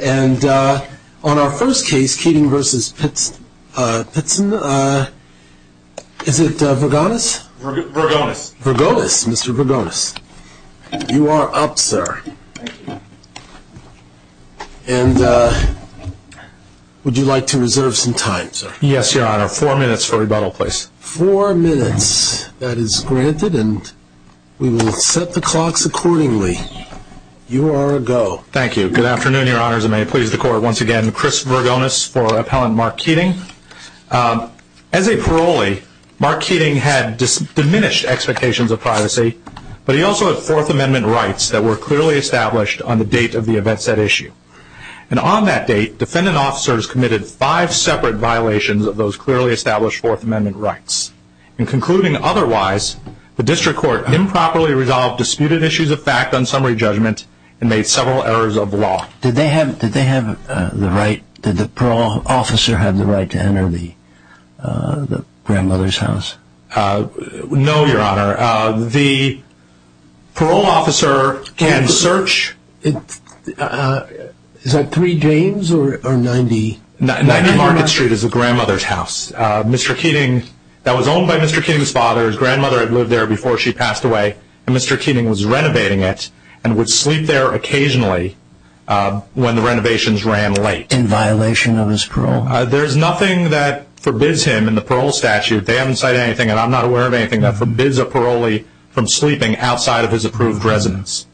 And on our first case, Keating v. Pittston, is it Vergonis? Vergonis. Vergonis, Mr. Vergonis. You are up, sir. Thank you. And would you like to reserve some time, sir? Yes, Your Honor. Four minutes for rebuttal, please. Four minutes. That is granted, and we will set the clocks accordingly. You are a go. Thank you. Good afternoon, Your Honors, and may it please the Court once again, Chris Vergonis for Appellant Mark Keating. As a parolee, Mark Keating had diminished expectations of privacy, but he also had Fourth Amendment rights that were clearly established on the date of the event set issue. And on that date, defendant officers committed five separate violations of those clearly established Fourth Amendment rights. In concluding otherwise, the District Court improperly resolved disputed issues of fact on summary judgment and made several errors of law. Did the parole officer have the right to enter the grandmother's house? No, Your Honor. The parole officer can search. Is that 3 James or 90 Market Street? 90 Market Street is the grandmother's house. Mr. Keating, that was owned by Mr. Keating's father. His grandmother had lived there before she passed away, and Mr. Keating was renovating it and would sleep there occasionally when the renovations ran late. In violation of his parole? There's nothing that forbids him in the parole statute. They haven't cited anything, and I'm not aware of anything that forbids a parolee from sleeping outside of his approved residence.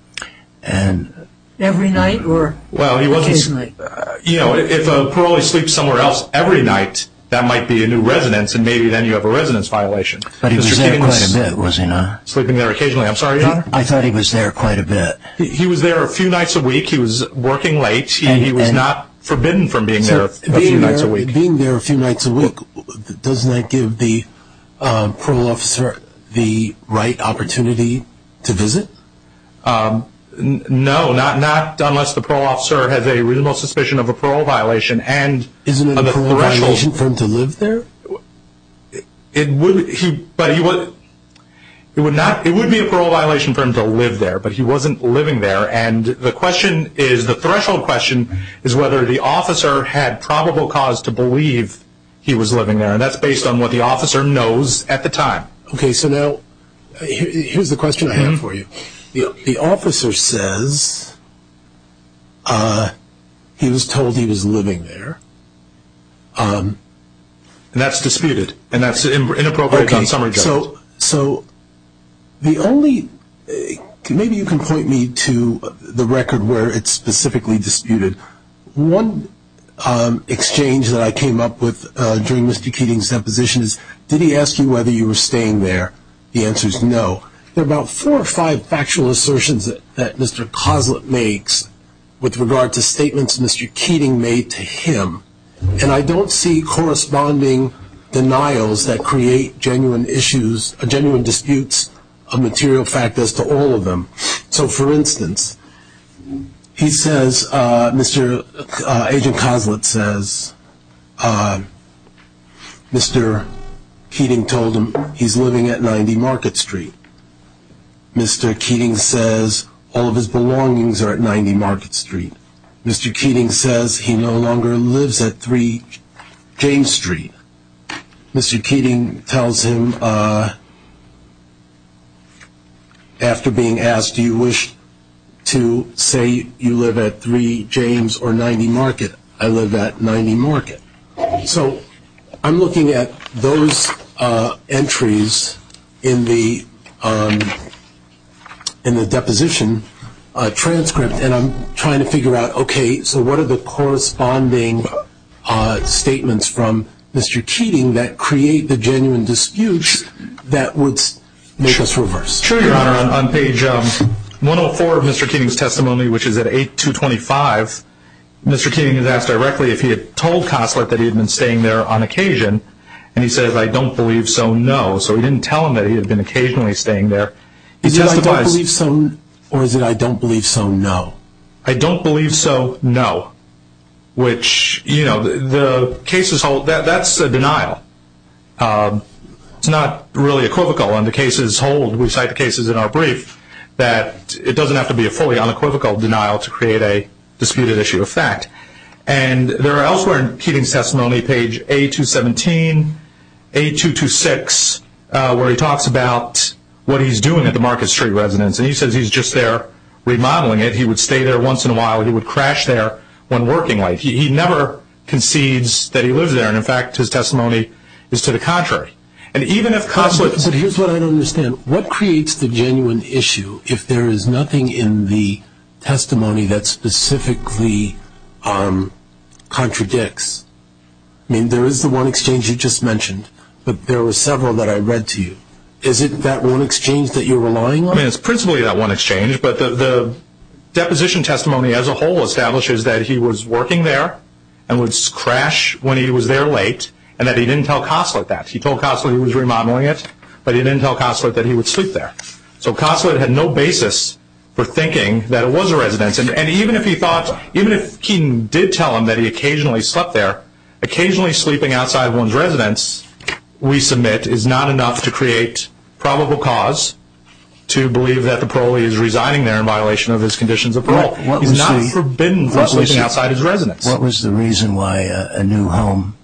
Every night or occasionally? If a parolee sleeps somewhere else every night, that might be a new residence, and maybe then you have a residence violation. But he was there quite a bit, was he not? Sleeping there occasionally. I'm sorry, Your Honor? I thought he was there quite a bit. He was there a few nights a week. He was working late, and he was not forbidden from being there a few nights a week. Being there a few nights a week, doesn't that give the parole officer the right opportunity to visit? No, not unless the parole officer has a reasonable suspicion of a parole violation. Isn't it a parole violation for him to live there? It would be a parole violation for him to live there, but he wasn't living there, and the threshold question is whether the officer had probable cause to believe he was living there, and that's based on what the officer knows at the time. Okay, so now here's the question I have for you. The officer says he was told he was living there. And that's disputed, and that's inappropriate on summary judgment. Okay, so maybe you can point me to the record where it's specifically disputed. One exchange that I came up with during Mr. Keating's deposition is, did he ask you whether you were staying there? The answer is no. There are about four or five factual assertions that Mr. Coslett makes with regard to statements Mr. Keating made to him, and I don't see corresponding denials that create genuine disputes of material fact as to all of them. So, for instance, Agent Coslett says Mr. Keating told him he's living at 90 Market Street. Mr. Keating says all of his belongings are at 90 Market Street. Mr. Keating says he no longer lives at 3 James Street. Mr. Keating tells him, after being asked, do you wish to say you live at 3 James or 90 Market? I live at 90 Market. So I'm looking at those entries in the deposition transcript, and I'm trying to figure out, okay, so what are the corresponding statements from Mr. Keating that create the genuine disputes that would make us reverse? Sure, Your Honor. On page 104 of Mr. Keating's testimony, which is at 8-225, Mr. Keating is asked directly if he had told Coslett that he had been staying there on occasion, and he says, I don't believe so, no. So he didn't tell him that he had been occasionally staying there. Is it I don't believe so, or is it I don't believe so, no? I don't believe so, no. That's a denial. It's not really equivocal. We cite cases in our brief that it doesn't have to be a fully unequivocal denial to create a disputed issue of fact. And there are elsewhere in Keating's testimony, page 8-217, 8-226, where he talks about what he's doing at the Market Street Residence, and he says he's just there remodeling it. He would stay there once in a while. He would crash there when working late. He never concedes that he lives there, and, in fact, his testimony is to the contrary. But here's what I don't understand. So what creates the genuine issue if there is nothing in the testimony that specifically contradicts? I mean, there is the one exchange you just mentioned, but there were several that I read to you. Is it that one exchange that you're relying on? It's principally that one exchange, but the deposition testimony as a whole establishes that he was working there and would crash when he was there late and that he didn't tell Coslett that. He told Coslett he was remodeling it, but he didn't tell Coslett that he would sleep there. So Coslett had no basis for thinking that it was a residence. And even if he thought, even if Keating did tell him that he occasionally slept there, occasionally sleeping outside one's residence, we submit, is not enough to create probable cause to believe that the parolee is resigning there in violation of his conditions of parole. He's not forbidden from sleeping outside his residence. What was the reason why a new home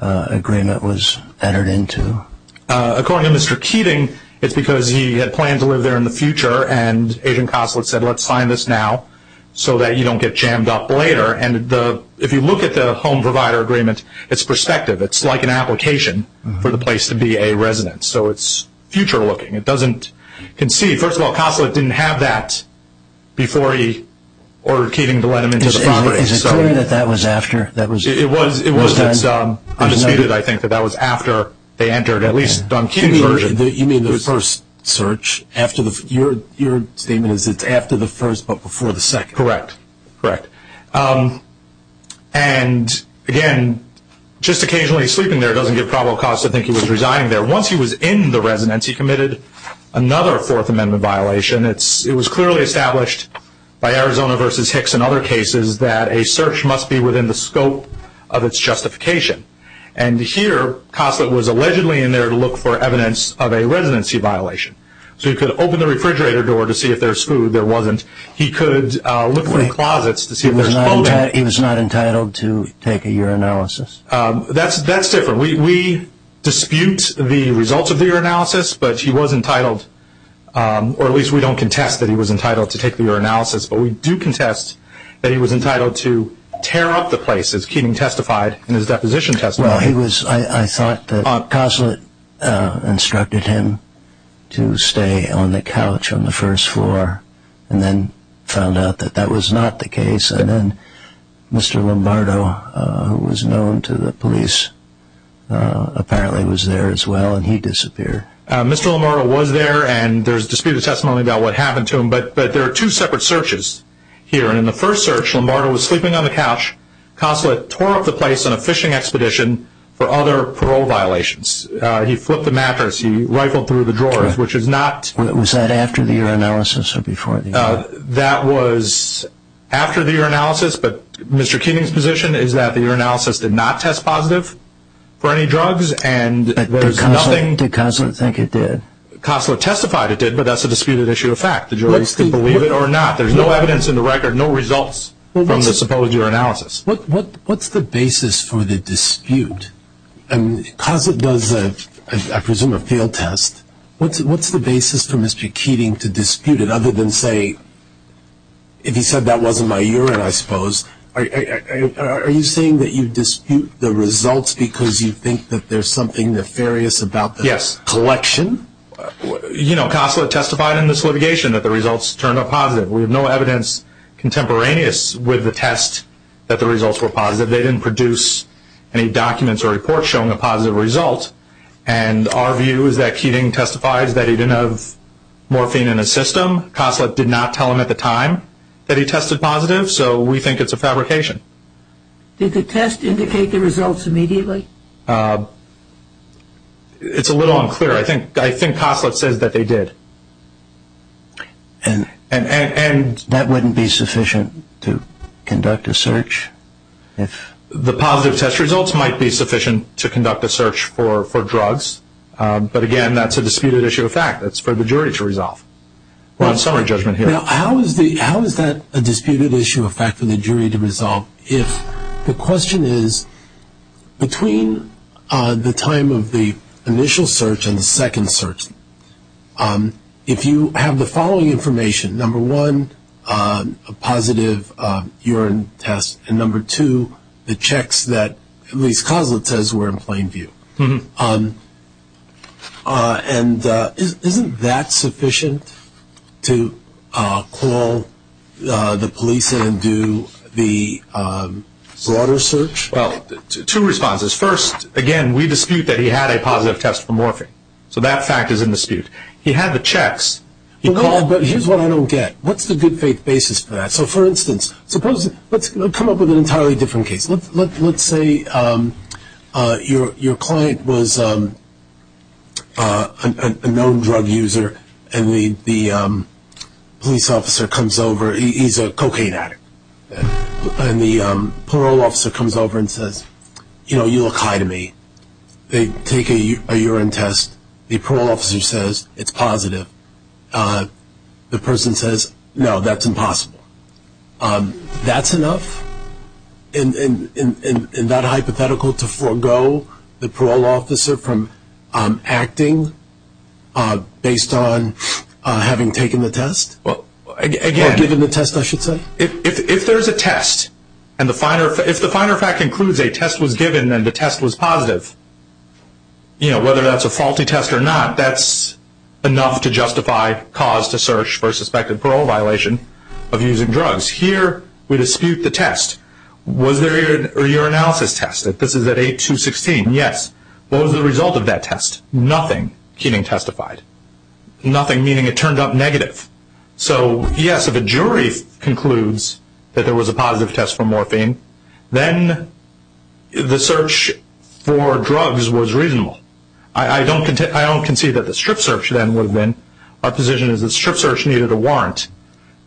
agreement was entered into? According to Mr. Keating, it's because he had planned to live there in the future and Adrian Coslett said, let's sign this now so that you don't get jammed up later. And if you look at the home provider agreement, it's perspective. It's like an application for the place to be a residence. So it's future looking. It doesn't concede. First of all, Coslett didn't have that before he ordered Keating to let him into the property. Is it clear that that was after? It was. It's undisputed, I think, that that was after they entered, at least on Keating's version. You mean the first search? Your statement is it's after the first but before the second. Correct. Correct. And, again, just occasionally sleeping there doesn't give probable cause to think he was resigning there. Once he was in the residence, he committed another Fourth Amendment violation. It was clearly established by Arizona v. Hicks and other cases that a search must be within the scope of its justification. And here Coslett was allegedly in there to look for evidence of a residency violation. So he could open the refrigerator door to see if there was food. There wasn't. He could look for closets to see if there was clothing. He was not entitled to take a urinalysis? That's different. We dispute the results of the urinalysis, but he was entitled, or at least we don't contest that he was entitled to take the urinalysis, but we do contest that he was entitled to tear up the place, as Keating testified in his deposition testimony. I thought that Coslett instructed him to stay on the couch on the first floor and then found out that that was not the case. And then Mr. Lombardo, who was known to the police, apparently was there as well, and he disappeared. Mr. Lombardo was there, and there's disputed testimony about what happened to him, but there are two separate searches here. In the first search, Lombardo was sleeping on the couch. Coslett tore up the place on a fishing expedition for other parole violations. He flipped the mattress. He rifled through the drawers, which is not... Was that after the urinalysis or before the urinalysis? That was after the urinalysis, but Mr. Keating's position is that the urinalysis did not test positive for any drugs, and there's nothing... Did Coslett think it did? Coslett testified it did, but that's a disputed issue of fact. The jury is to believe it or not. There's no evidence in the record, no results from the supposed urinalysis. What's the basis for the dispute? Coslett does, I presume, a field test. What's the basis for Mr. Keating to dispute it other than, say, if he said that wasn't my urine, I suppose? Are you saying that you dispute the results because you think that there's something nefarious about the collection? Yes. You know, Coslett testified in this litigation that the results turned out positive. We have no evidence contemporaneous with the test that the results were positive. They didn't produce any documents or reports showing a positive result, and our view is that Keating testifies that he didn't have morphine in his system. Coslett did not tell him at the time that he tested positive, so we think it's a fabrication. Did the test indicate the results immediately? It's a little unclear. I think Coslett says that they did. And that wouldn't be sufficient to conduct a search? The positive test results might be sufficient to conduct a search for drugs, but, again, that's a disputed issue of fact. That's for the jury to resolve. We'll have summary judgment here. Now, how is that a disputed issue of fact for the jury to resolve if the question is, between the time of the initial search and the second search, if you have the following information, number one, a positive urine test, and number two, the checks that at least Coslett says were in plain view. And isn't that sufficient to call the police and do the broader search? Well, two responses. First, again, we dispute that he had a positive test for morphine, so that fact is in dispute. He had the checks. But here's what I don't get. What's the good faith basis for that? So, for instance, let's come up with an entirely different case. Let's say your client was a known drug user and the police officer comes over. He's a cocaine addict. And the parole officer comes over and says, you know, you look high to me. They take a urine test. The parole officer says it's positive. The person says, no, that's impossible. That's enough in that hypothetical to forego the parole officer from acting based on having taken the test? Or given the test, I should say? If there's a test and the finer fact includes a test was given and the test was positive, you know, whether that's a faulty test or not, that's enough to justify cause to search for a suspected parole violation of using drugs. Here we dispute the test. Was there a urinalysis test? This is at 8216. Yes. What was the result of that test? Nothing. Keating testified. Nothing, meaning it turned up negative. So, yes, if a jury concludes that there was a positive test for morphine, then the search for drugs was reasonable. I don't concede that the strip search then would have been. Our position is the strip search needed a warrant.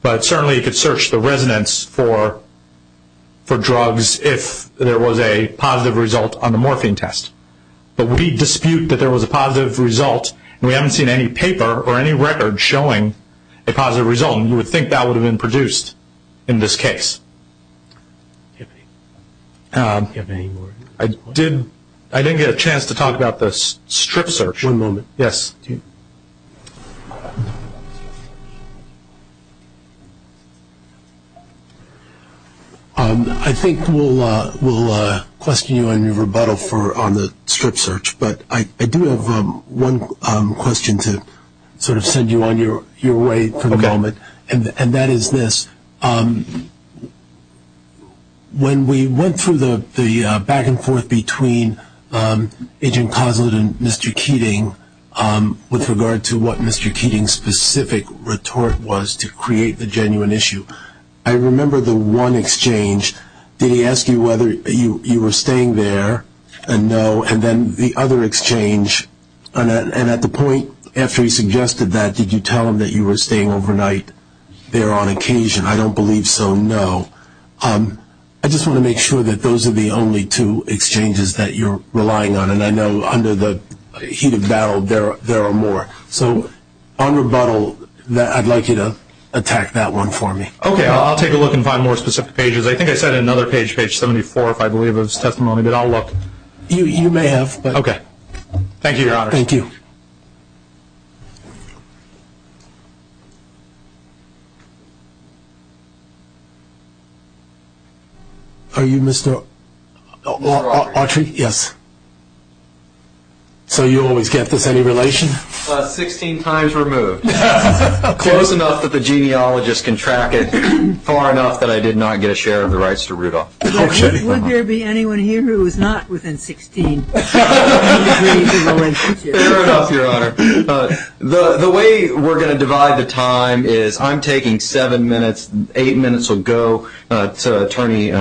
But certainly you could search the residence for drugs if there was a positive result on the morphine test. But we dispute that there was a positive result. We haven't seen any paper or any record showing a positive result, and you would think that would have been produced in this case. I didn't get a chance to talk about the strip search. One moment. Yes. Thank you. I think we'll question you on your rebuttal on the strip search, but I do have one question to sort of send you on your way for the moment, and that is this. When we went through the back and forth between Agent Coslet and Mr. Keating with regard to what Mr. Keating's specific retort was to create the genuine issue, I remember the one exchange, did he ask you whether you were staying there and no, and then the other exchange, and at the point after he suggested that, did you tell him that you were staying overnight there on occasion? I don't believe so, no. I just want to make sure that those are the only two exchanges that you're relying on, and I know under the heat of battle there are more. So on rebuttal, I'd like you to attack that one for me. Okay. I'll take a look and find more specific pages. I think I said another page, page 74, if I believe of his testimony, but I'll look. You may have. Okay. Thank you, Your Honors. Thank you. Are you Mr. Autry? Yes. So you always get this. Any relation? Sixteen times removed. Close enough that the genealogist can track it, far enough that I did not get a share of the rights to Rudolph. Would there be anyone here who is not within 16 degrees of a relationship? Fair enough, Your Honor. The way we're going to divide the time is I'm taking seven minutes, eight minutes will go to Attorney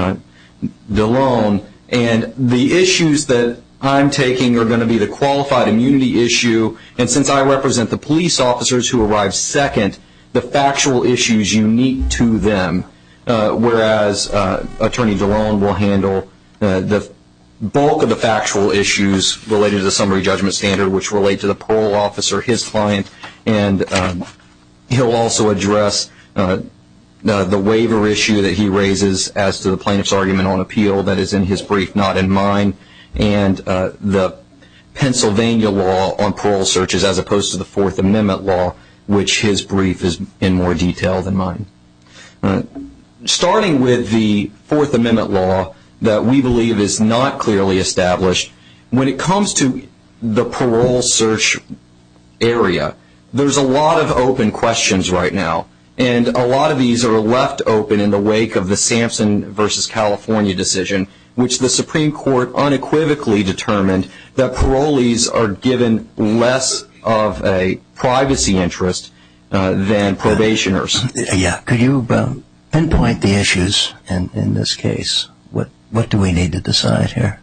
DeLone, and the issues that I'm taking are going to be the qualified immunity issue, and since I represent the police officers who arrive second, the factual issues unique to them, whereas Attorney DeLone will handle the bulk of the factual issues related to the summary judgment standard, which relate to the parole officer, his client, and he'll also address the waiver issue that he raises as to the plaintiff's argument on appeal that is in his brief, not in mine, and the Pennsylvania law on parole searches, as opposed to the Fourth Amendment law, which his brief is in more detail than mine. Starting with the Fourth Amendment law that we believe is not clearly established, when it comes to the parole search area, there's a lot of open questions right now, and a lot of these are left open in the wake of the Sampson v. California decision, which the Supreme Court unequivocally determined that privacy interest than probationers. Yeah, could you pinpoint the issues in this case? What do we need to decide here?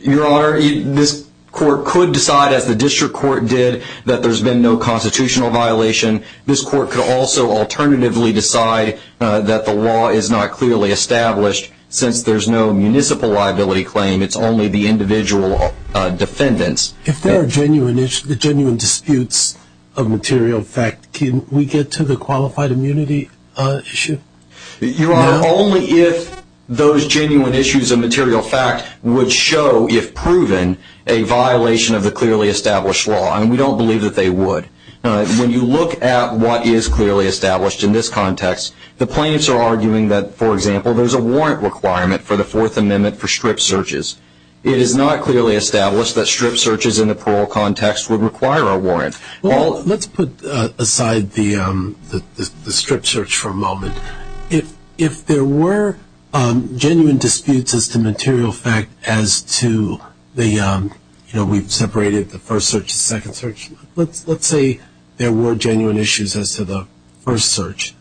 Your Honor, this court could decide, as the district court did, that there's been no constitutional violation. This court could also alternatively decide that the law is not clearly established, since there's no municipal liability claim. It's only the individual defendants. If there are genuine disputes of material fact, can we get to the qualified immunity issue? Your Honor, only if those genuine issues of material fact would show, if proven, a violation of the clearly established law, and we don't believe that they would. When you look at what is clearly established in this context, the plaintiffs are arguing that, for example, there's a warrant requirement for the Fourth Amendment for strip searches. It is not clearly established that strip searches in the parole context would require a warrant. Well, let's put aside the strip search for a moment. If there were genuine disputes as to material fact as to the, you know, we've separated the first search and second search. Let's say there were genuine issues as to the first search.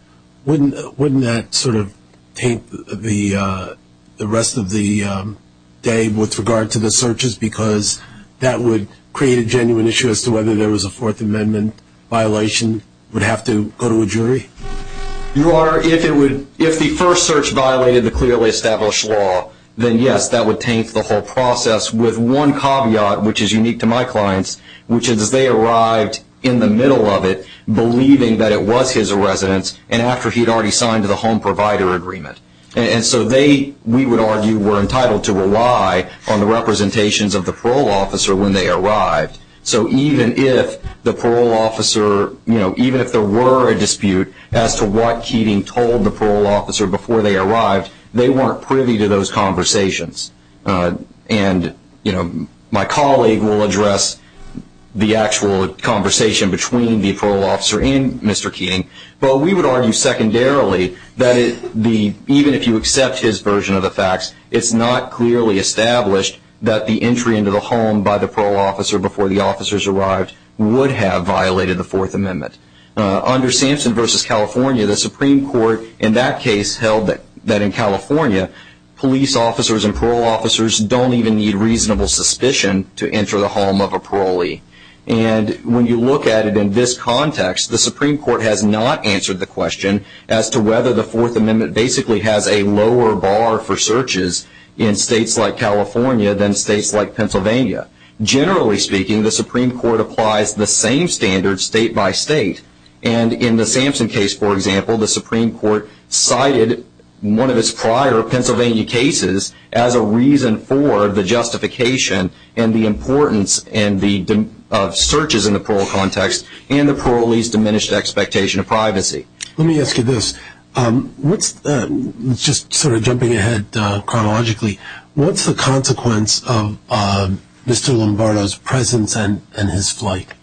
Wouldn't that sort of taint the rest of the day with regard to the searches, because that would create a genuine issue as to whether there was a Fourth Amendment violation, would have to go to a jury? Your Honor, if the first search violated the clearly established law, then yes, that would taint the whole process with one caveat, which is unique to my clients, which is they arrived in the middle of it believing that it was his residence and after he had already signed the home provider agreement. And so they, we would argue, were entitled to rely on the representations of the parole officer when they arrived. So even if the parole officer, you know, even if there were a dispute as to what Keating told the parole officer before they arrived, they weren't privy to those conversations. And, you know, my colleague will address the actual conversation between the parole officer and Mr. Keating, but we would argue secondarily that even if you accept his version of the facts, it's not clearly established that the entry into the home by the parole officer before the officers arrived would have violated the Fourth Amendment. Under Sampson v. California, the Supreme Court in that case held that in California, police officers and parole officers don't even need reasonable suspicion to enter the home of a parolee. And when you look at it in this context, the Supreme Court has not answered the question as to whether the Fourth Amendment basically has a lower bar for searches in states like California than states like Pennsylvania. Generally speaking, the Supreme Court applies the same standards state by state. And in the Sampson case, for example, the Supreme Court cited one of its prior Pennsylvania cases as a reason for the justification and the importance of searches in the parole context and the parolees' diminished expectation of privacy. Let me ask you this. Just sort of jumping ahead chronologically, what's the consequence of Mr. Lombardo's presence and his flight?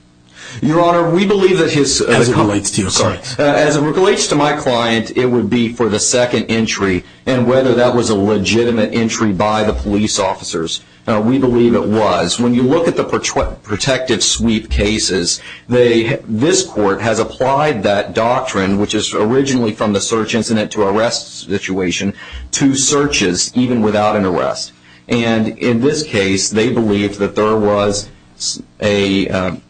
Your Honor, we believe that his... As it relates to your client. As it relates to my client, it would be for the second entry and whether that was a legitimate entry by the police officers. We believe it was. When you look at the protective sweep cases, this court has applied that doctrine, which is originally from the search incident to arrest situation, to searches even without an arrest. And in this case, they believed that there was an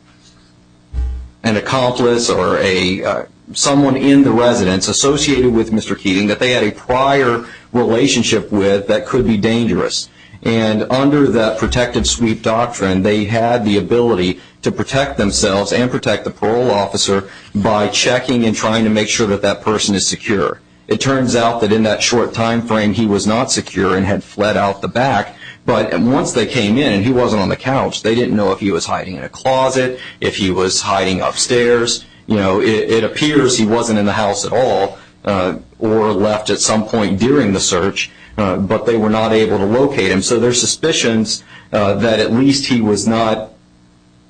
accomplice or someone in the residence associated with Mr. Keating that they had a prior relationship with that could be dangerous. And under that protective sweep doctrine, they had the ability to protect themselves and protect the parole officer by checking and trying to make sure that that person is secure. It turns out that in that short time frame, he was not secure and had fled out the back. But once they came in and he wasn't on the couch, they didn't know if he was hiding in a closet, if he was hiding upstairs. It appears he wasn't in the house at all or left at some point during the search, but they were not able to locate him. So their suspicions that at least he was not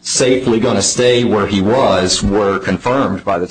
safely going to stay where he was were confirmed at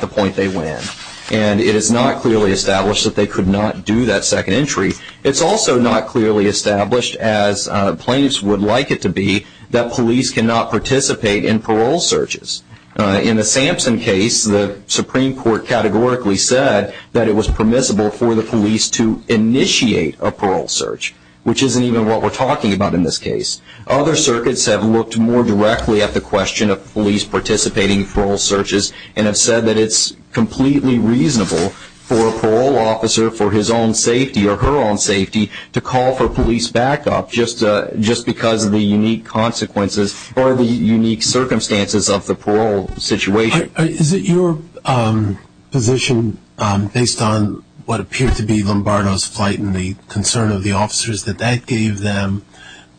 the point they went in. And it is not clearly established that they could not do that second entry. It's also not clearly established, as plaintiffs would like it to be, that police cannot participate in parole searches. In the Sampson case, the Supreme Court categorically said that it was permissible for the police to initiate a parole search, which isn't even what we're talking about in this case. Other circuits have looked more directly at the question of police participating in parole searches and have said that it's completely reasonable for a parole officer for his own safety or her own safety to call for police backup just because of the unique consequences or the unique circumstances of the parole situation. Is it your position, based on what appeared to be Lombardo's flight and the concern of the officers, that that gave them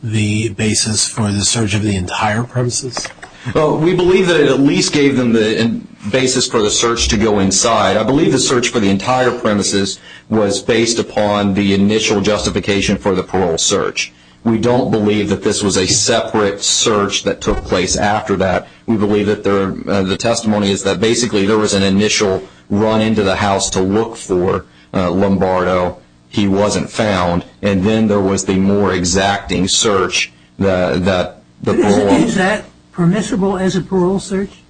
the basis for the search of the entire premises? We believe that it at least gave them the basis for the search to go inside. I believe the search for the entire premises was based upon the initial justification for the parole search. We don't believe that this was a separate search that took place after that. We believe that the testimony is that basically there was an initial run into the house to look for Lombardo. He wasn't found. And then there was the more exacting search that the parole... Is that permissible as a parole search,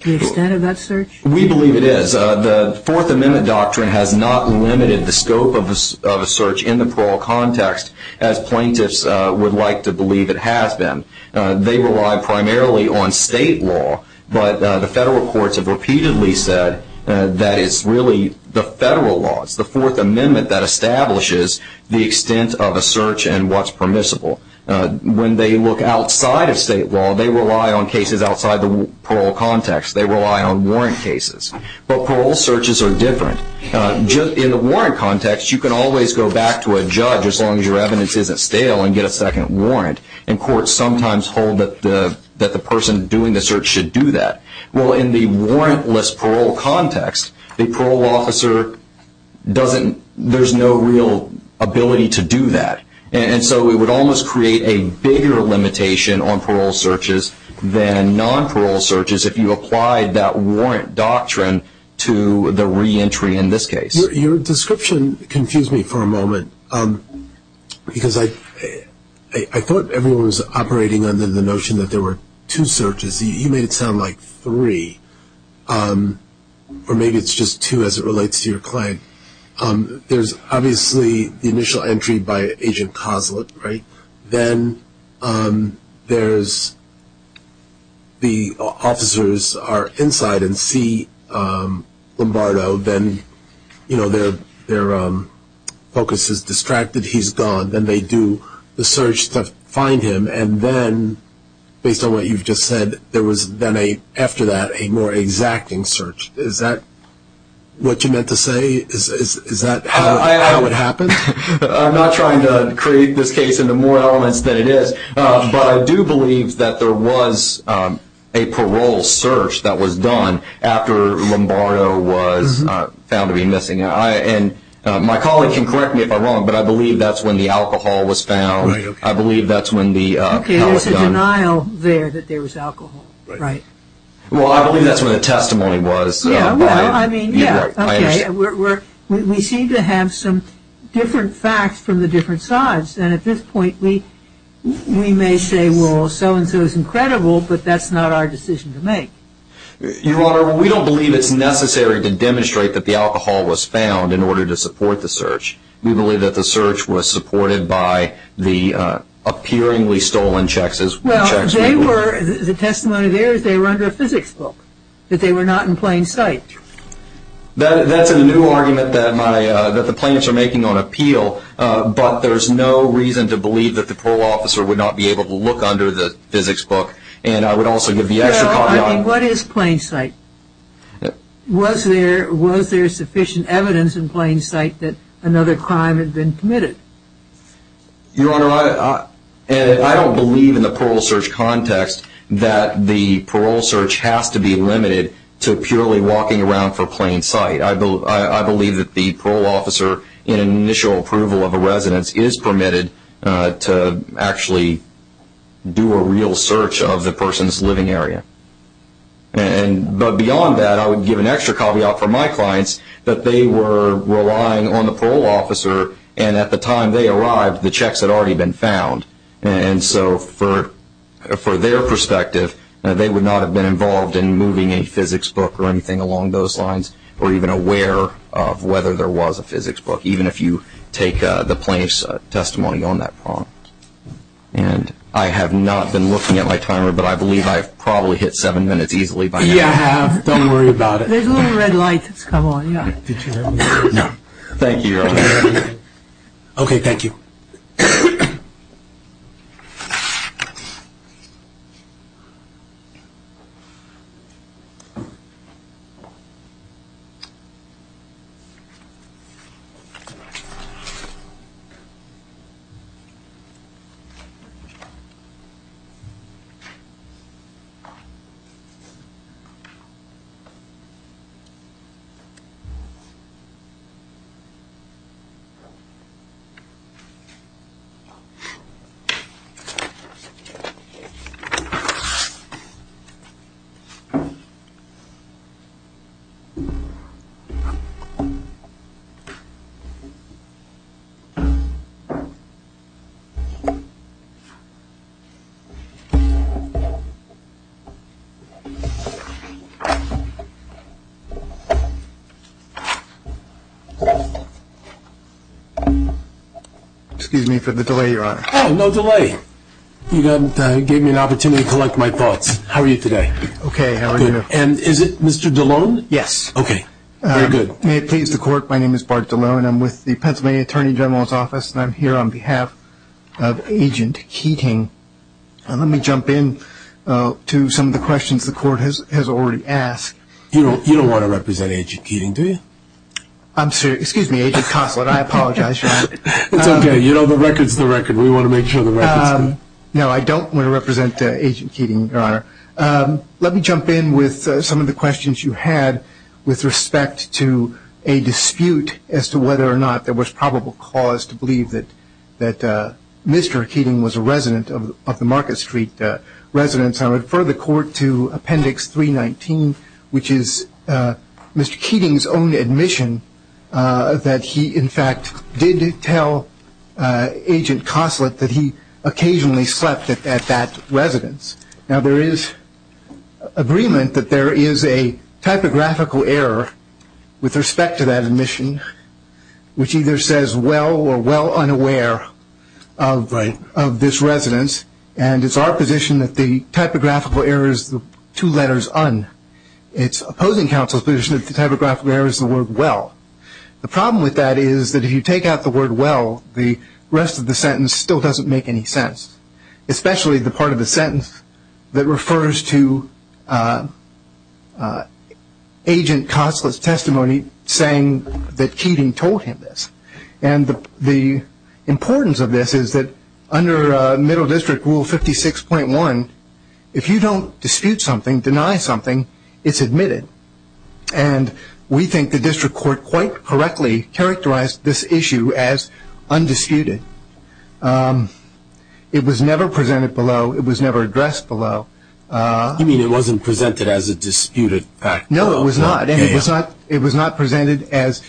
the extent of that search? We believe it is. The Fourth Amendment doctrine has not limited the scope of a search in the parole context, as plaintiffs would like to believe it has been. They rely primarily on state law. But the federal courts have repeatedly said that it's really the federal laws, the Fourth Amendment, that establishes the extent of a search and what's permissible. When they look outside of state law, they rely on cases outside the parole context. They rely on warrant cases. But parole searches are different. In the warrant context, you can always go back to a judge, as long as your evidence isn't stale, and get a second warrant. And courts sometimes hold that the person doing the search should do that. Well, in the warrantless parole context, the parole officer doesn't... There's no real ability to do that. And so it would almost create a bigger limitation on parole searches than non-parole searches if you applied that warrant doctrine to the reentry in this case. Your description confused me for a moment, because I thought everyone was operating under the notion that there were two searches. You made it sound like three, or maybe it's just two as it relates to your claim. There's obviously the initial entry by Agent Coslett, right? Then there's the officers are inside and see Lombardo. Then, you know, their focus is distracted. He's gone. Then they do the search to find him. And then, based on what you've just said, there was then after that a more exacting search. Is that what you meant to say? Is that how it happened? I'm not trying to create this case into more elements than it is, but I do believe that there was a parole search that was done after Lombardo was found to be missing. And my colleague can correct me if I'm wrong, but I believe that's when the alcohol was found. I believe that's when the alcohol was found. There's a denial there that there was alcohol, right? Well, I believe that's where the testimony was. Yeah. Well, I mean, yeah. Okay. We seem to have some different facts from the different sides. And at this point, we may say, well, so-and-so is incredible, but that's not our decision to make. Your Honor, we don't believe it's necessary to demonstrate that the alcohol was found in order to support the search. We believe that the search was supported by the appearingly stolen checks. Well, the testimony there is they were under a physics book, that they were not in plain sight. That's a new argument that the plaintiffs are making on appeal, but there's no reason to believe that the parole officer would not be able to look under the physics book. And I would also give the extra caveat. Well, I mean, what is plain sight? Was there sufficient evidence in plain sight that another crime had been committed? Your Honor, I don't believe in the parole search context that the parole search has to be limited to purely walking around for plain sight. I believe that the parole officer, in initial approval of a residence, is permitted to actually do a real search of the person's living area. But beyond that, I would give an extra caveat for my clients that they were relying on the parole officer, and at the time they arrived, the checks had already been found. And so, for their perspective, they would not have been involved in moving a physics book or anything along those lines or even aware of whether there was a physics book, even if you take the plaintiff's testimony on that prompt. And I have not been looking at my timer, but I believe I've probably hit seven minutes easily by now. You have. Don't worry about it. There's a little red light that's come on, yeah. Did you hear me? No. Thank you, Your Honor. Okay, thank you. Okay. Excuse me for the delay, Your Honor. Oh, no delay. You gave me an opportunity to collect my thoughts. How are you today? Okay, how are you? Good. And is it Mr. DeLone? Yes. Okay, very good. May it please the Court, my name is Bart DeLone. I'm here on behalf of the Pennsylvania Attorney General's Office. And let me jump in to some of the questions the Court has already asked. You don't want to represent Agent Keating, do you? I'm sorry. Excuse me, Agent Consolid, I apologize, Your Honor. It's okay. You know the record's the record. We want to make sure the record's good. No, I don't want to represent Agent Keating, Your Honor. Let me jump in with some of the questions you had with respect to a dispute as to whether or not there was probable cause to believe that Mr. Keating was a resident of the Market Street residence. I would refer the Court to Appendix 319, which is Mr. Keating's own admission that he, in fact, did tell Agent Consolid that he occasionally slept at that residence. Now, there is agreement that there is a typographical error with respect to that admission, which either says well or well unaware of this residence. And it's our position that the typographical error is the two letters un. It's opposing counsel's position that the typographical error is the word well. The problem with that is that if you take out the word well, the rest of the sentence still doesn't make any sense, especially the part of the sentence that refers to Agent Consolid's testimony saying that Keating told him this. And the importance of this is that under Middle District Rule 56.1, if you don't dispute something, deny something, it's admitted. And we think the District Court quite correctly characterized this issue as undisputed. It was never presented below. It was never addressed below. You mean it wasn't presented as a disputed fact? No, it was not. And it was not presented as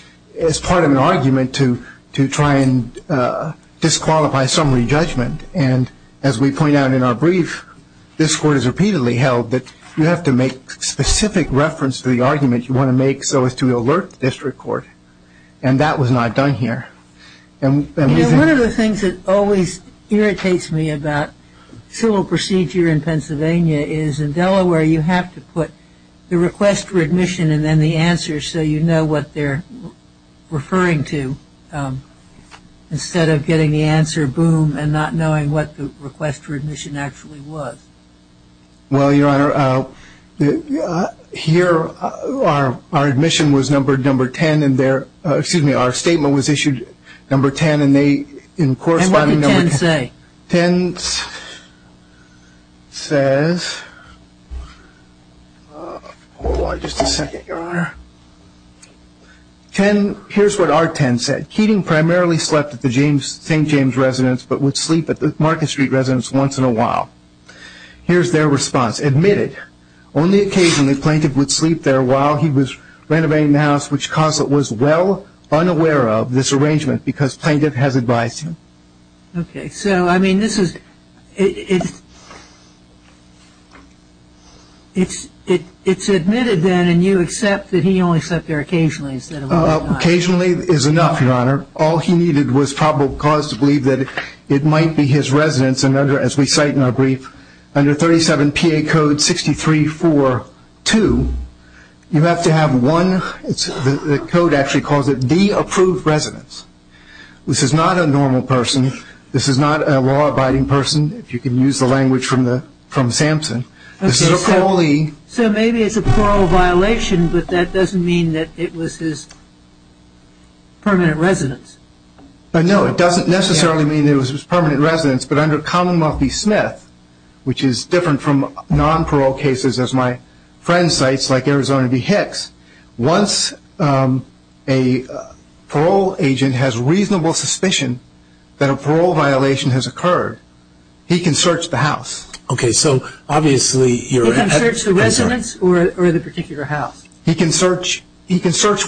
part of an argument to try and disqualify summary judgment. And as we point out in our brief, this Court has repeatedly held that you have to make specific reference to the argument you want to make so as to alert the District Court. And that was not done here. And one of the things that always irritates me about civil procedure in Pennsylvania is in Delaware, you have to put the request for admission and then the answer so you know what they're referring to instead of getting the answer, boom, and not knowing what the request for admission actually was. Well, Your Honor, here our admission was number 10. Excuse me, our statement was issued number 10. And what did 10 say? 10 says, hold on just a second, Your Honor. 10, here's what our 10 said. Keating primarily slept at the St. James residence but would sleep at the Market Street residence once in a while. Here's their response. Okay, so I mean, this is ‑‑ it's admitted then and you accept that he only slept there occasionally instead of all the time. Occasionally is enough, Your Honor. All he needed was probable cause to believe that it might be his residence. And as we cite in our brief, under 37 P.A. Curse, under Code 63.4.2, you have to have one, the code actually calls it the approved residence. This is not a normal person. This is not a law‑abiding person, if you can use the language from Samson. This is a parolee. So maybe it's a parole violation, but that doesn't mean that it was his permanent residence. No, it doesn't necessarily mean it was his permanent residence, but under Commonwealth v. Smith, which is different from nonparole cases as my friend cites, like Arizona v. Hicks, once a parole agent has reasonable suspicion that a parole violation has occurred, he can search the house. Okay, so obviously you're ‑‑ He can search the residence or the particular house. He can search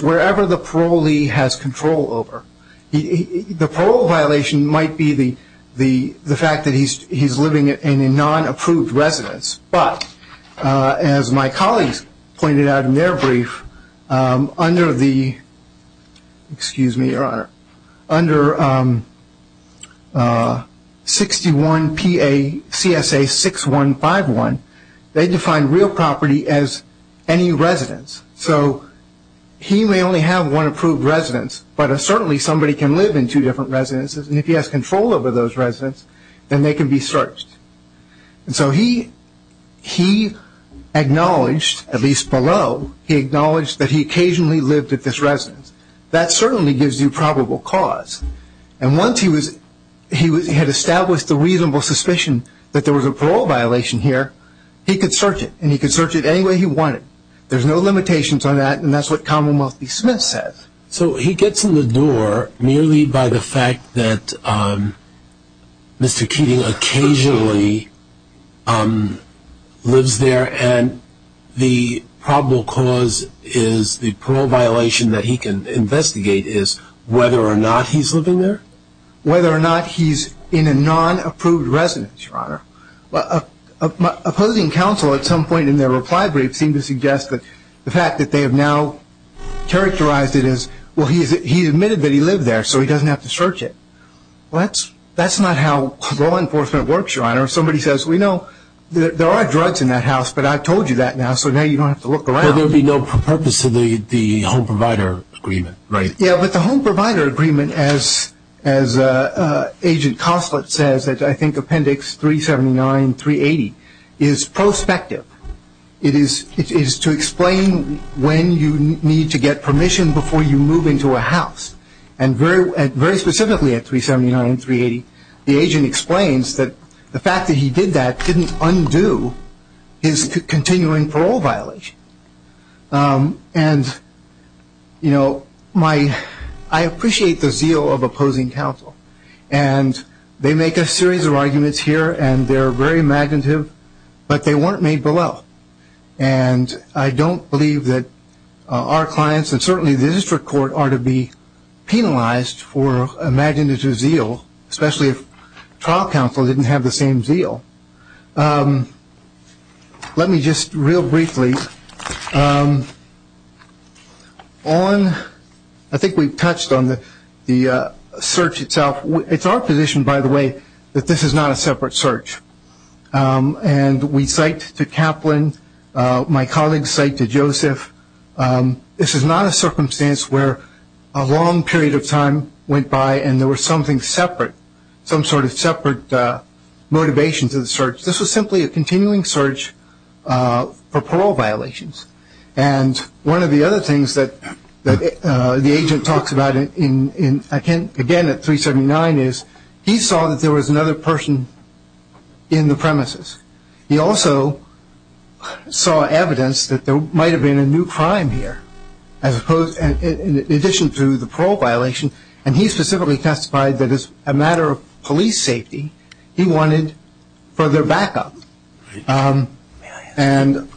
wherever the parolee has control over. The parole violation might be the fact that he's living in a nonapproved residence, but as my colleagues pointed out in their brief, under the, excuse me, Your Honor, under 61 P.A. C.S.A. 6151, they define real property as any residence. So he may only have one approved residence, but certainly somebody can live in two different residences, and if he has control over those residences, then they can be searched. And so he acknowledged, at least below, he acknowledged that he occasionally lived at this residence. That certainly gives you probable cause. And once he had established the reasonable suspicion that there was a parole violation here, he could search it, and he could search it any way he wanted. There's no limitations on that, and that's what Commonwealth v. Smith says. So he gets in the door merely by the fact that Mr. Keating occasionally lives there and the probable cause is the parole violation that he can investigate is whether or not he's living there? Whether or not he's in a nonapproved residence, Your Honor. Opposing counsel at some point in their reply brief seemed to suggest that the fact that they have now characterized it as, well, he admitted that he lived there, so he doesn't have to search it. Well, that's not how law enforcement works, Your Honor. If somebody says, well, you know, there are drugs in that house, but I told you that now, so now you don't have to look around. But there would be no purpose to the home provider agreement, right? Yeah, but the home provider agreement, as Agent Coslett says, I think Appendix 379, 380, is prospective. It is to explain when you need to get permission before you move into a house. And very specifically at 379, 380, the agent explains that the fact that he did that didn't undo his continuing parole violation. And, you know, I appreciate the zeal of opposing counsel. And they make a series of arguments here, and they're very imaginative, but they weren't made below. And I don't believe that our clients, and certainly the district court, are to be penalized for imaginative zeal, especially if trial counsel didn't have the same zeal. Let me just, real briefly, on ‑‑ I think we've touched on the search itself. It's our position, by the way, that this is not a separate search. And we cite to Kaplan, my colleagues cite to Joseph, this is not a circumstance where a long period of time went by and there was something separate, some sort of separate motivation to the search. This was simply a continuing search for parole violations. And one of the other things that the agent talks about, again, at 379, is he saw that there was another person in the premises. He also saw evidence that there might have been a new crime here, in addition to the parole violation. And he specifically testified that as a matter of police safety, he wanted further backup. And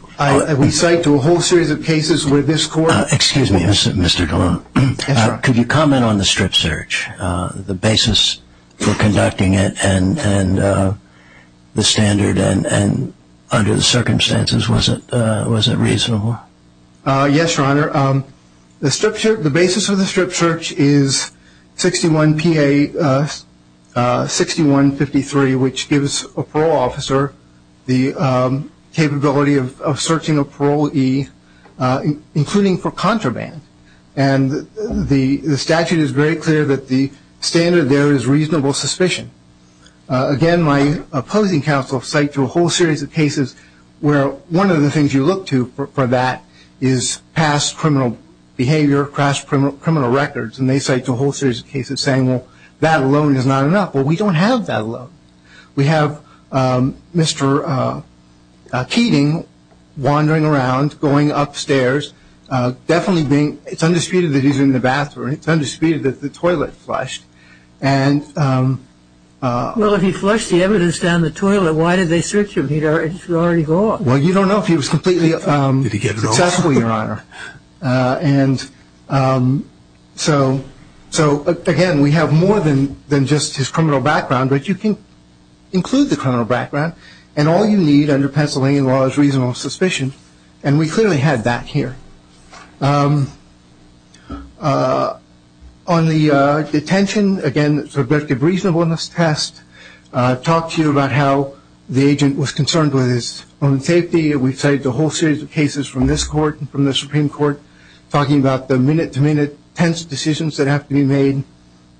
we cite to a whole series of cases where this court ‑‑ Excuse me, Mr. DeLong. Yes, Your Honor. Could you comment on the strip search, the basis for conducting it, and the standard and under the circumstances, was it reasonable? Yes, Your Honor. The basis for the strip search is 61PA6153, which gives a parole officer the capability of searching a parolee, including for contraband. And the statute is very clear that the standard there is reasonable suspicion. Again, my opposing counsel cite to a whole series of cases where one of the things you look to for that is past criminal behavior, crashed criminal records, and they cite to a whole series of cases saying, well, that alone is not enough. Well, we don't have that alone. We have Mr. Keating wandering around, going upstairs, definitely being ‑‑ it's undisputed that he's in the bathroom. It's undisputed that the toilet flushed. Well, if he flushed the evidence down the toilet, why did they search him? He should already be gone. Well, you don't know if he was completely accessible, Your Honor. And so, again, we have more than just his criminal background, but you can include the criminal background, and all you need under Pennsylvania law is reasonable suspicion, and we clearly had that here. On the detention, again, subjective reasonableness test, talked to you about how the agent was concerned with his own safety. We cite to a whole series of cases from this court and from the Supreme Court talking about the minute‑to‑minute tense decisions that have to be made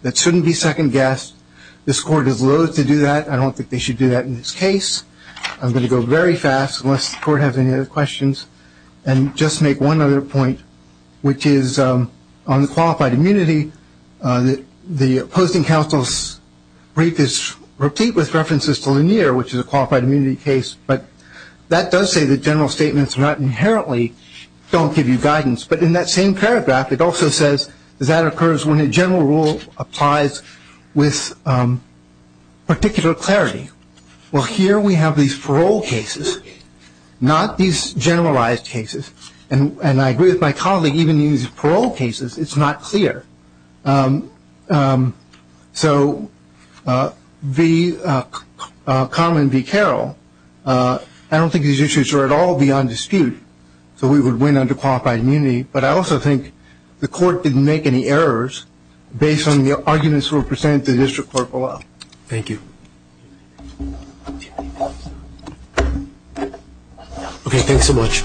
that shouldn't be second guessed. This court is loath to do that. I don't think they should do that in this case. I'm going to go very fast, unless the court has any other questions, and just make one other point, which is on the qualified immunity, the opposing counsel's brief is replete with references to Lanier, which is a qualified immunity case, but that does say that general statements inherently don't give you guidance. But in that same paragraph, it also says that occurs when a general rule applies with particular clarity. Well, here we have these parole cases, not these generalized cases, and I agree with my colleague, even in these parole cases, it's not clear. So, V. Common, V. Carroll, I don't think these issues are at all beyond dispute, so we would win under qualified immunity, but I also think the court didn't make any errors based on the arguments that were presented to the district court for a while. Thank you. Thank you. Thank you.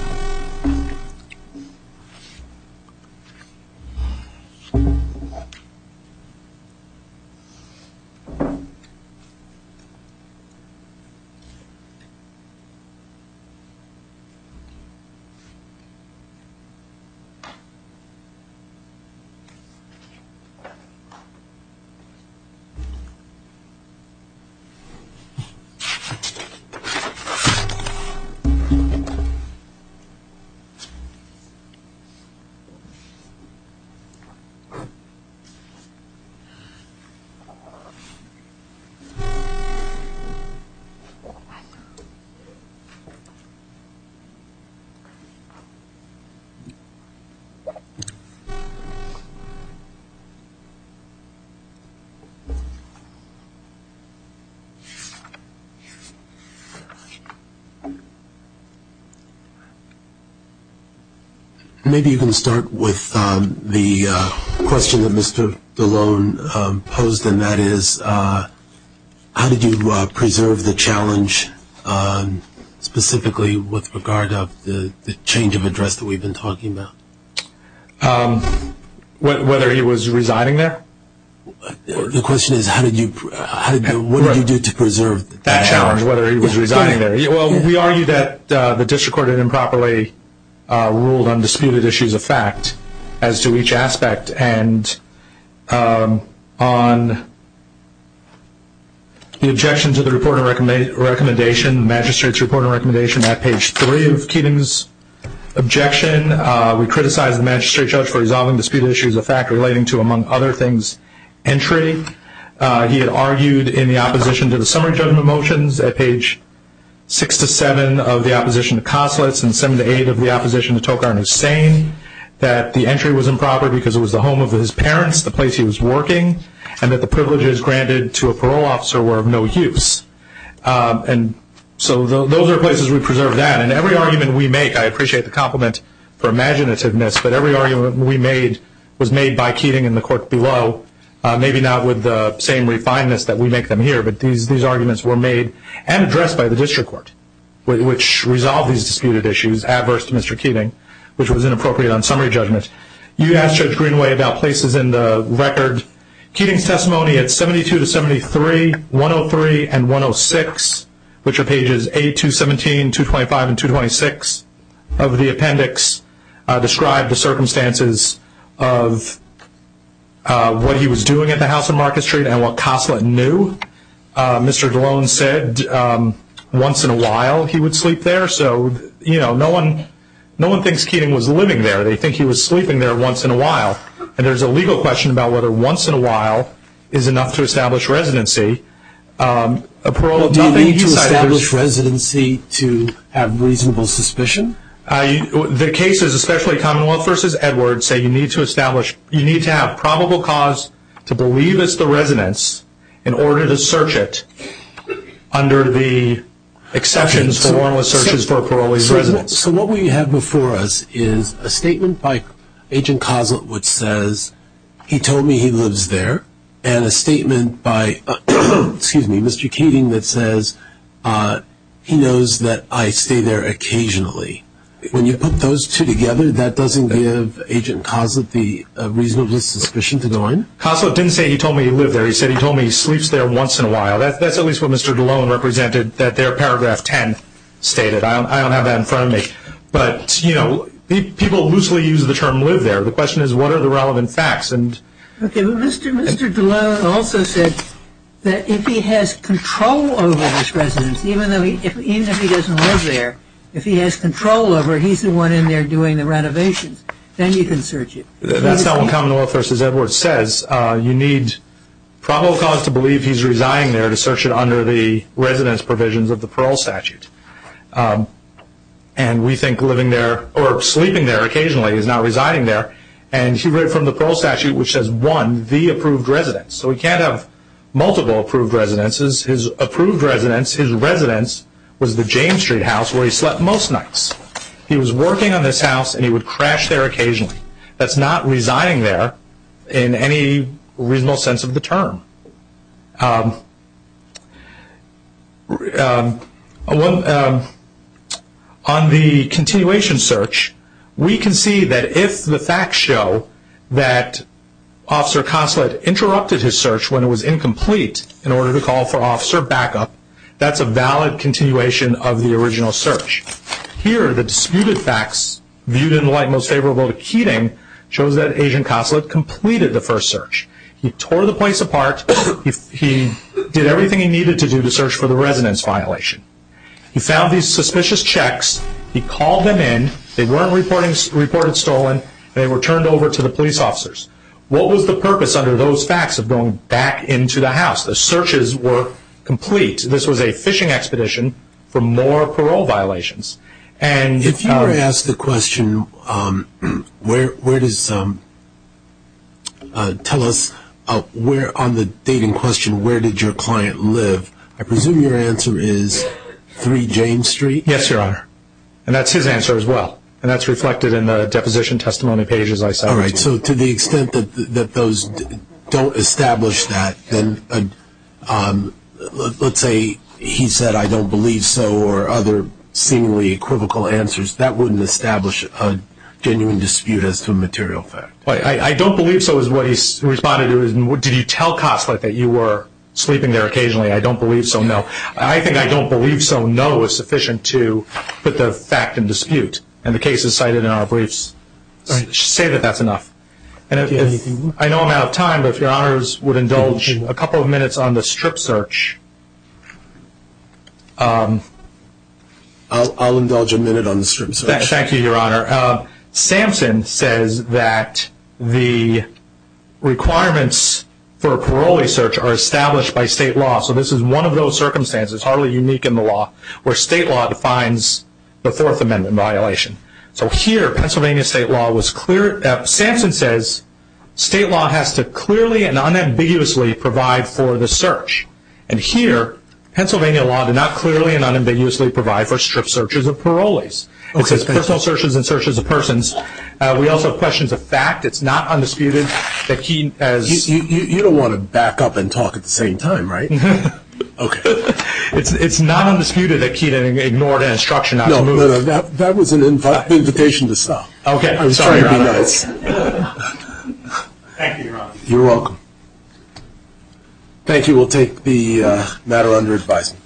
Maybe you can start with the question that Mr. DeLone posed, and that is how did you preserve the challenge, specifically with regard of the change of address that we've been talking about? Whether he was residing there? The question is what did you do to preserve the challenge? That challenge, whether he was residing there. Well, we argue that the district court had improperly ruled on disputed issues of fact as to each aspect, and on the objection to the magistrate's report and recommendation at page 3 of Keating's objection, we criticized the magistrate judge for resolving disputed issues of fact, relating to, among other things, entry. He had argued in the opposition to the summary judgment motions at page 6-7 of the opposition to Koslitz and 7-8 of the opposition to Tokar and Hussain that the entry was improper because it was the home of his parents, the place he was working, and that the privileges granted to a parole officer were of no use. And so those are places we preserved that. And every argument we make, I appreciate the compliment for imaginativeness, but every argument we made was made by Keating in the court below, maybe not with the same refinements that we make them here, but these arguments were made and addressed by the district court, which resolved these disputed issues adverse to Mr. Keating, which was inappropriate on summary judgment. You asked Judge Greenway about places in the record. Keating's testimony at 72-73, 103, and 106, which are pages 8-217, 225, and 226 of the appendix, described the circumstances of what he was doing at the house on Market Street and what Koslitz knew. Mr. DeLone said once in a while he would sleep there, so no one thinks Keating was living there. They think he was sleeping there once in a while. And there's a legal question about whether once in a while is enough to establish residency. Do you need to establish residency to have reasonable suspicion? The cases, especially Commonwealth v. Edwards, say you need to have probable cause to believe it's the residence in order to search it under the exceptions for warrantless searches for a parolee's residence. So what we have before us is a statement by Agent Koslitz which says he told me he lives there and a statement by Mr. Keating that says he knows that I stay there occasionally. When you put those two together, that doesn't give Agent Koslitz the reasonable suspicion to go in? Koslitz didn't say he told me he lived there. He said he told me he sleeps there once in a while. That's at least what Mr. DeLone represented that their paragraph 10 stated. I don't have that in front of me. But, you know, people loosely use the term live there. The question is what are the relevant facts. Okay, but Mr. DeLone also said that if he has control over his residence, even if he doesn't live there, if he has control over it, he's the one in there doing the renovations, then you can search it. That's not what Commonwealth v. Edwards says. You need probable cause to believe he's residing there to search it under the residence provisions of the parole statute. And we think sleeping there occasionally is not residing there. And he read from the parole statute which says, one, the approved residence. So he can't have multiple approved residences. His approved residence, his residence was the James Street house where he slept most nights. He was working on this house and he would crash there occasionally. That's not residing there in any reasonable sense of the term. On the continuation search, we can see that if the facts show that Officer Consolid interrupted his search when it was incomplete in order to call for officer backup, that's a valid continuation of the original search. Here, the disputed facts viewed in the light most favorable to Keating shows that Agent Consolid completed the first search. He tore the place apart. He did everything he needed to do to search for the residence violation. He found these suspicious checks. He called them in. They weren't reported stolen. They were turned over to the police officers. What was the purpose under those facts of going back into the house? The searches were complete. This was a fishing expedition for more parole violations. If you were to ask the question, tell us on the date in question, where did your client live? I presume your answer is 3 James Street? Yes, Your Honor. And that's his answer as well. And that's reflected in the deposition testimony pages I cited. All right. So to the extent that those don't establish that, let's say he said, I don't believe so, or other seemingly equivocal answers, that wouldn't establish a genuine dispute as to a material fact. I don't believe so is what he responded to. Did you tell Consolid that you were sleeping there occasionally? I don't believe so, no. I think I don't believe so, no, is sufficient to put the fact in dispute. And the cases cited in our briefs say that that's enough. I know I'm out of time, but if Your Honors would indulge a couple of minutes on the strip search. I'll indulge a minute on the strip search. Thank you, Your Honor. Samson says that the requirements for a parolee search are established by state law. So this is one of those circumstances, hardly unique in the law, where state law defines the Fourth Amendment violation. So here, Pennsylvania state law was clear. Samson says state law has to clearly and unambiguously provide for the search. And here, Pennsylvania law did not clearly and unambiguously provide for strip searches of parolees. It says personal searches and searches of persons. We also have questions of fact. It's not undisputed that he has… You don't want to back up and talk at the same time, right? Okay. It's not undisputed that Keenan ignored an instruction not to move. No, no, no, that was an invitation to stop. Okay. I was trying to be nice. Thank you, Your Honor. You're welcome. Thank you. We'll take the matter under advisement.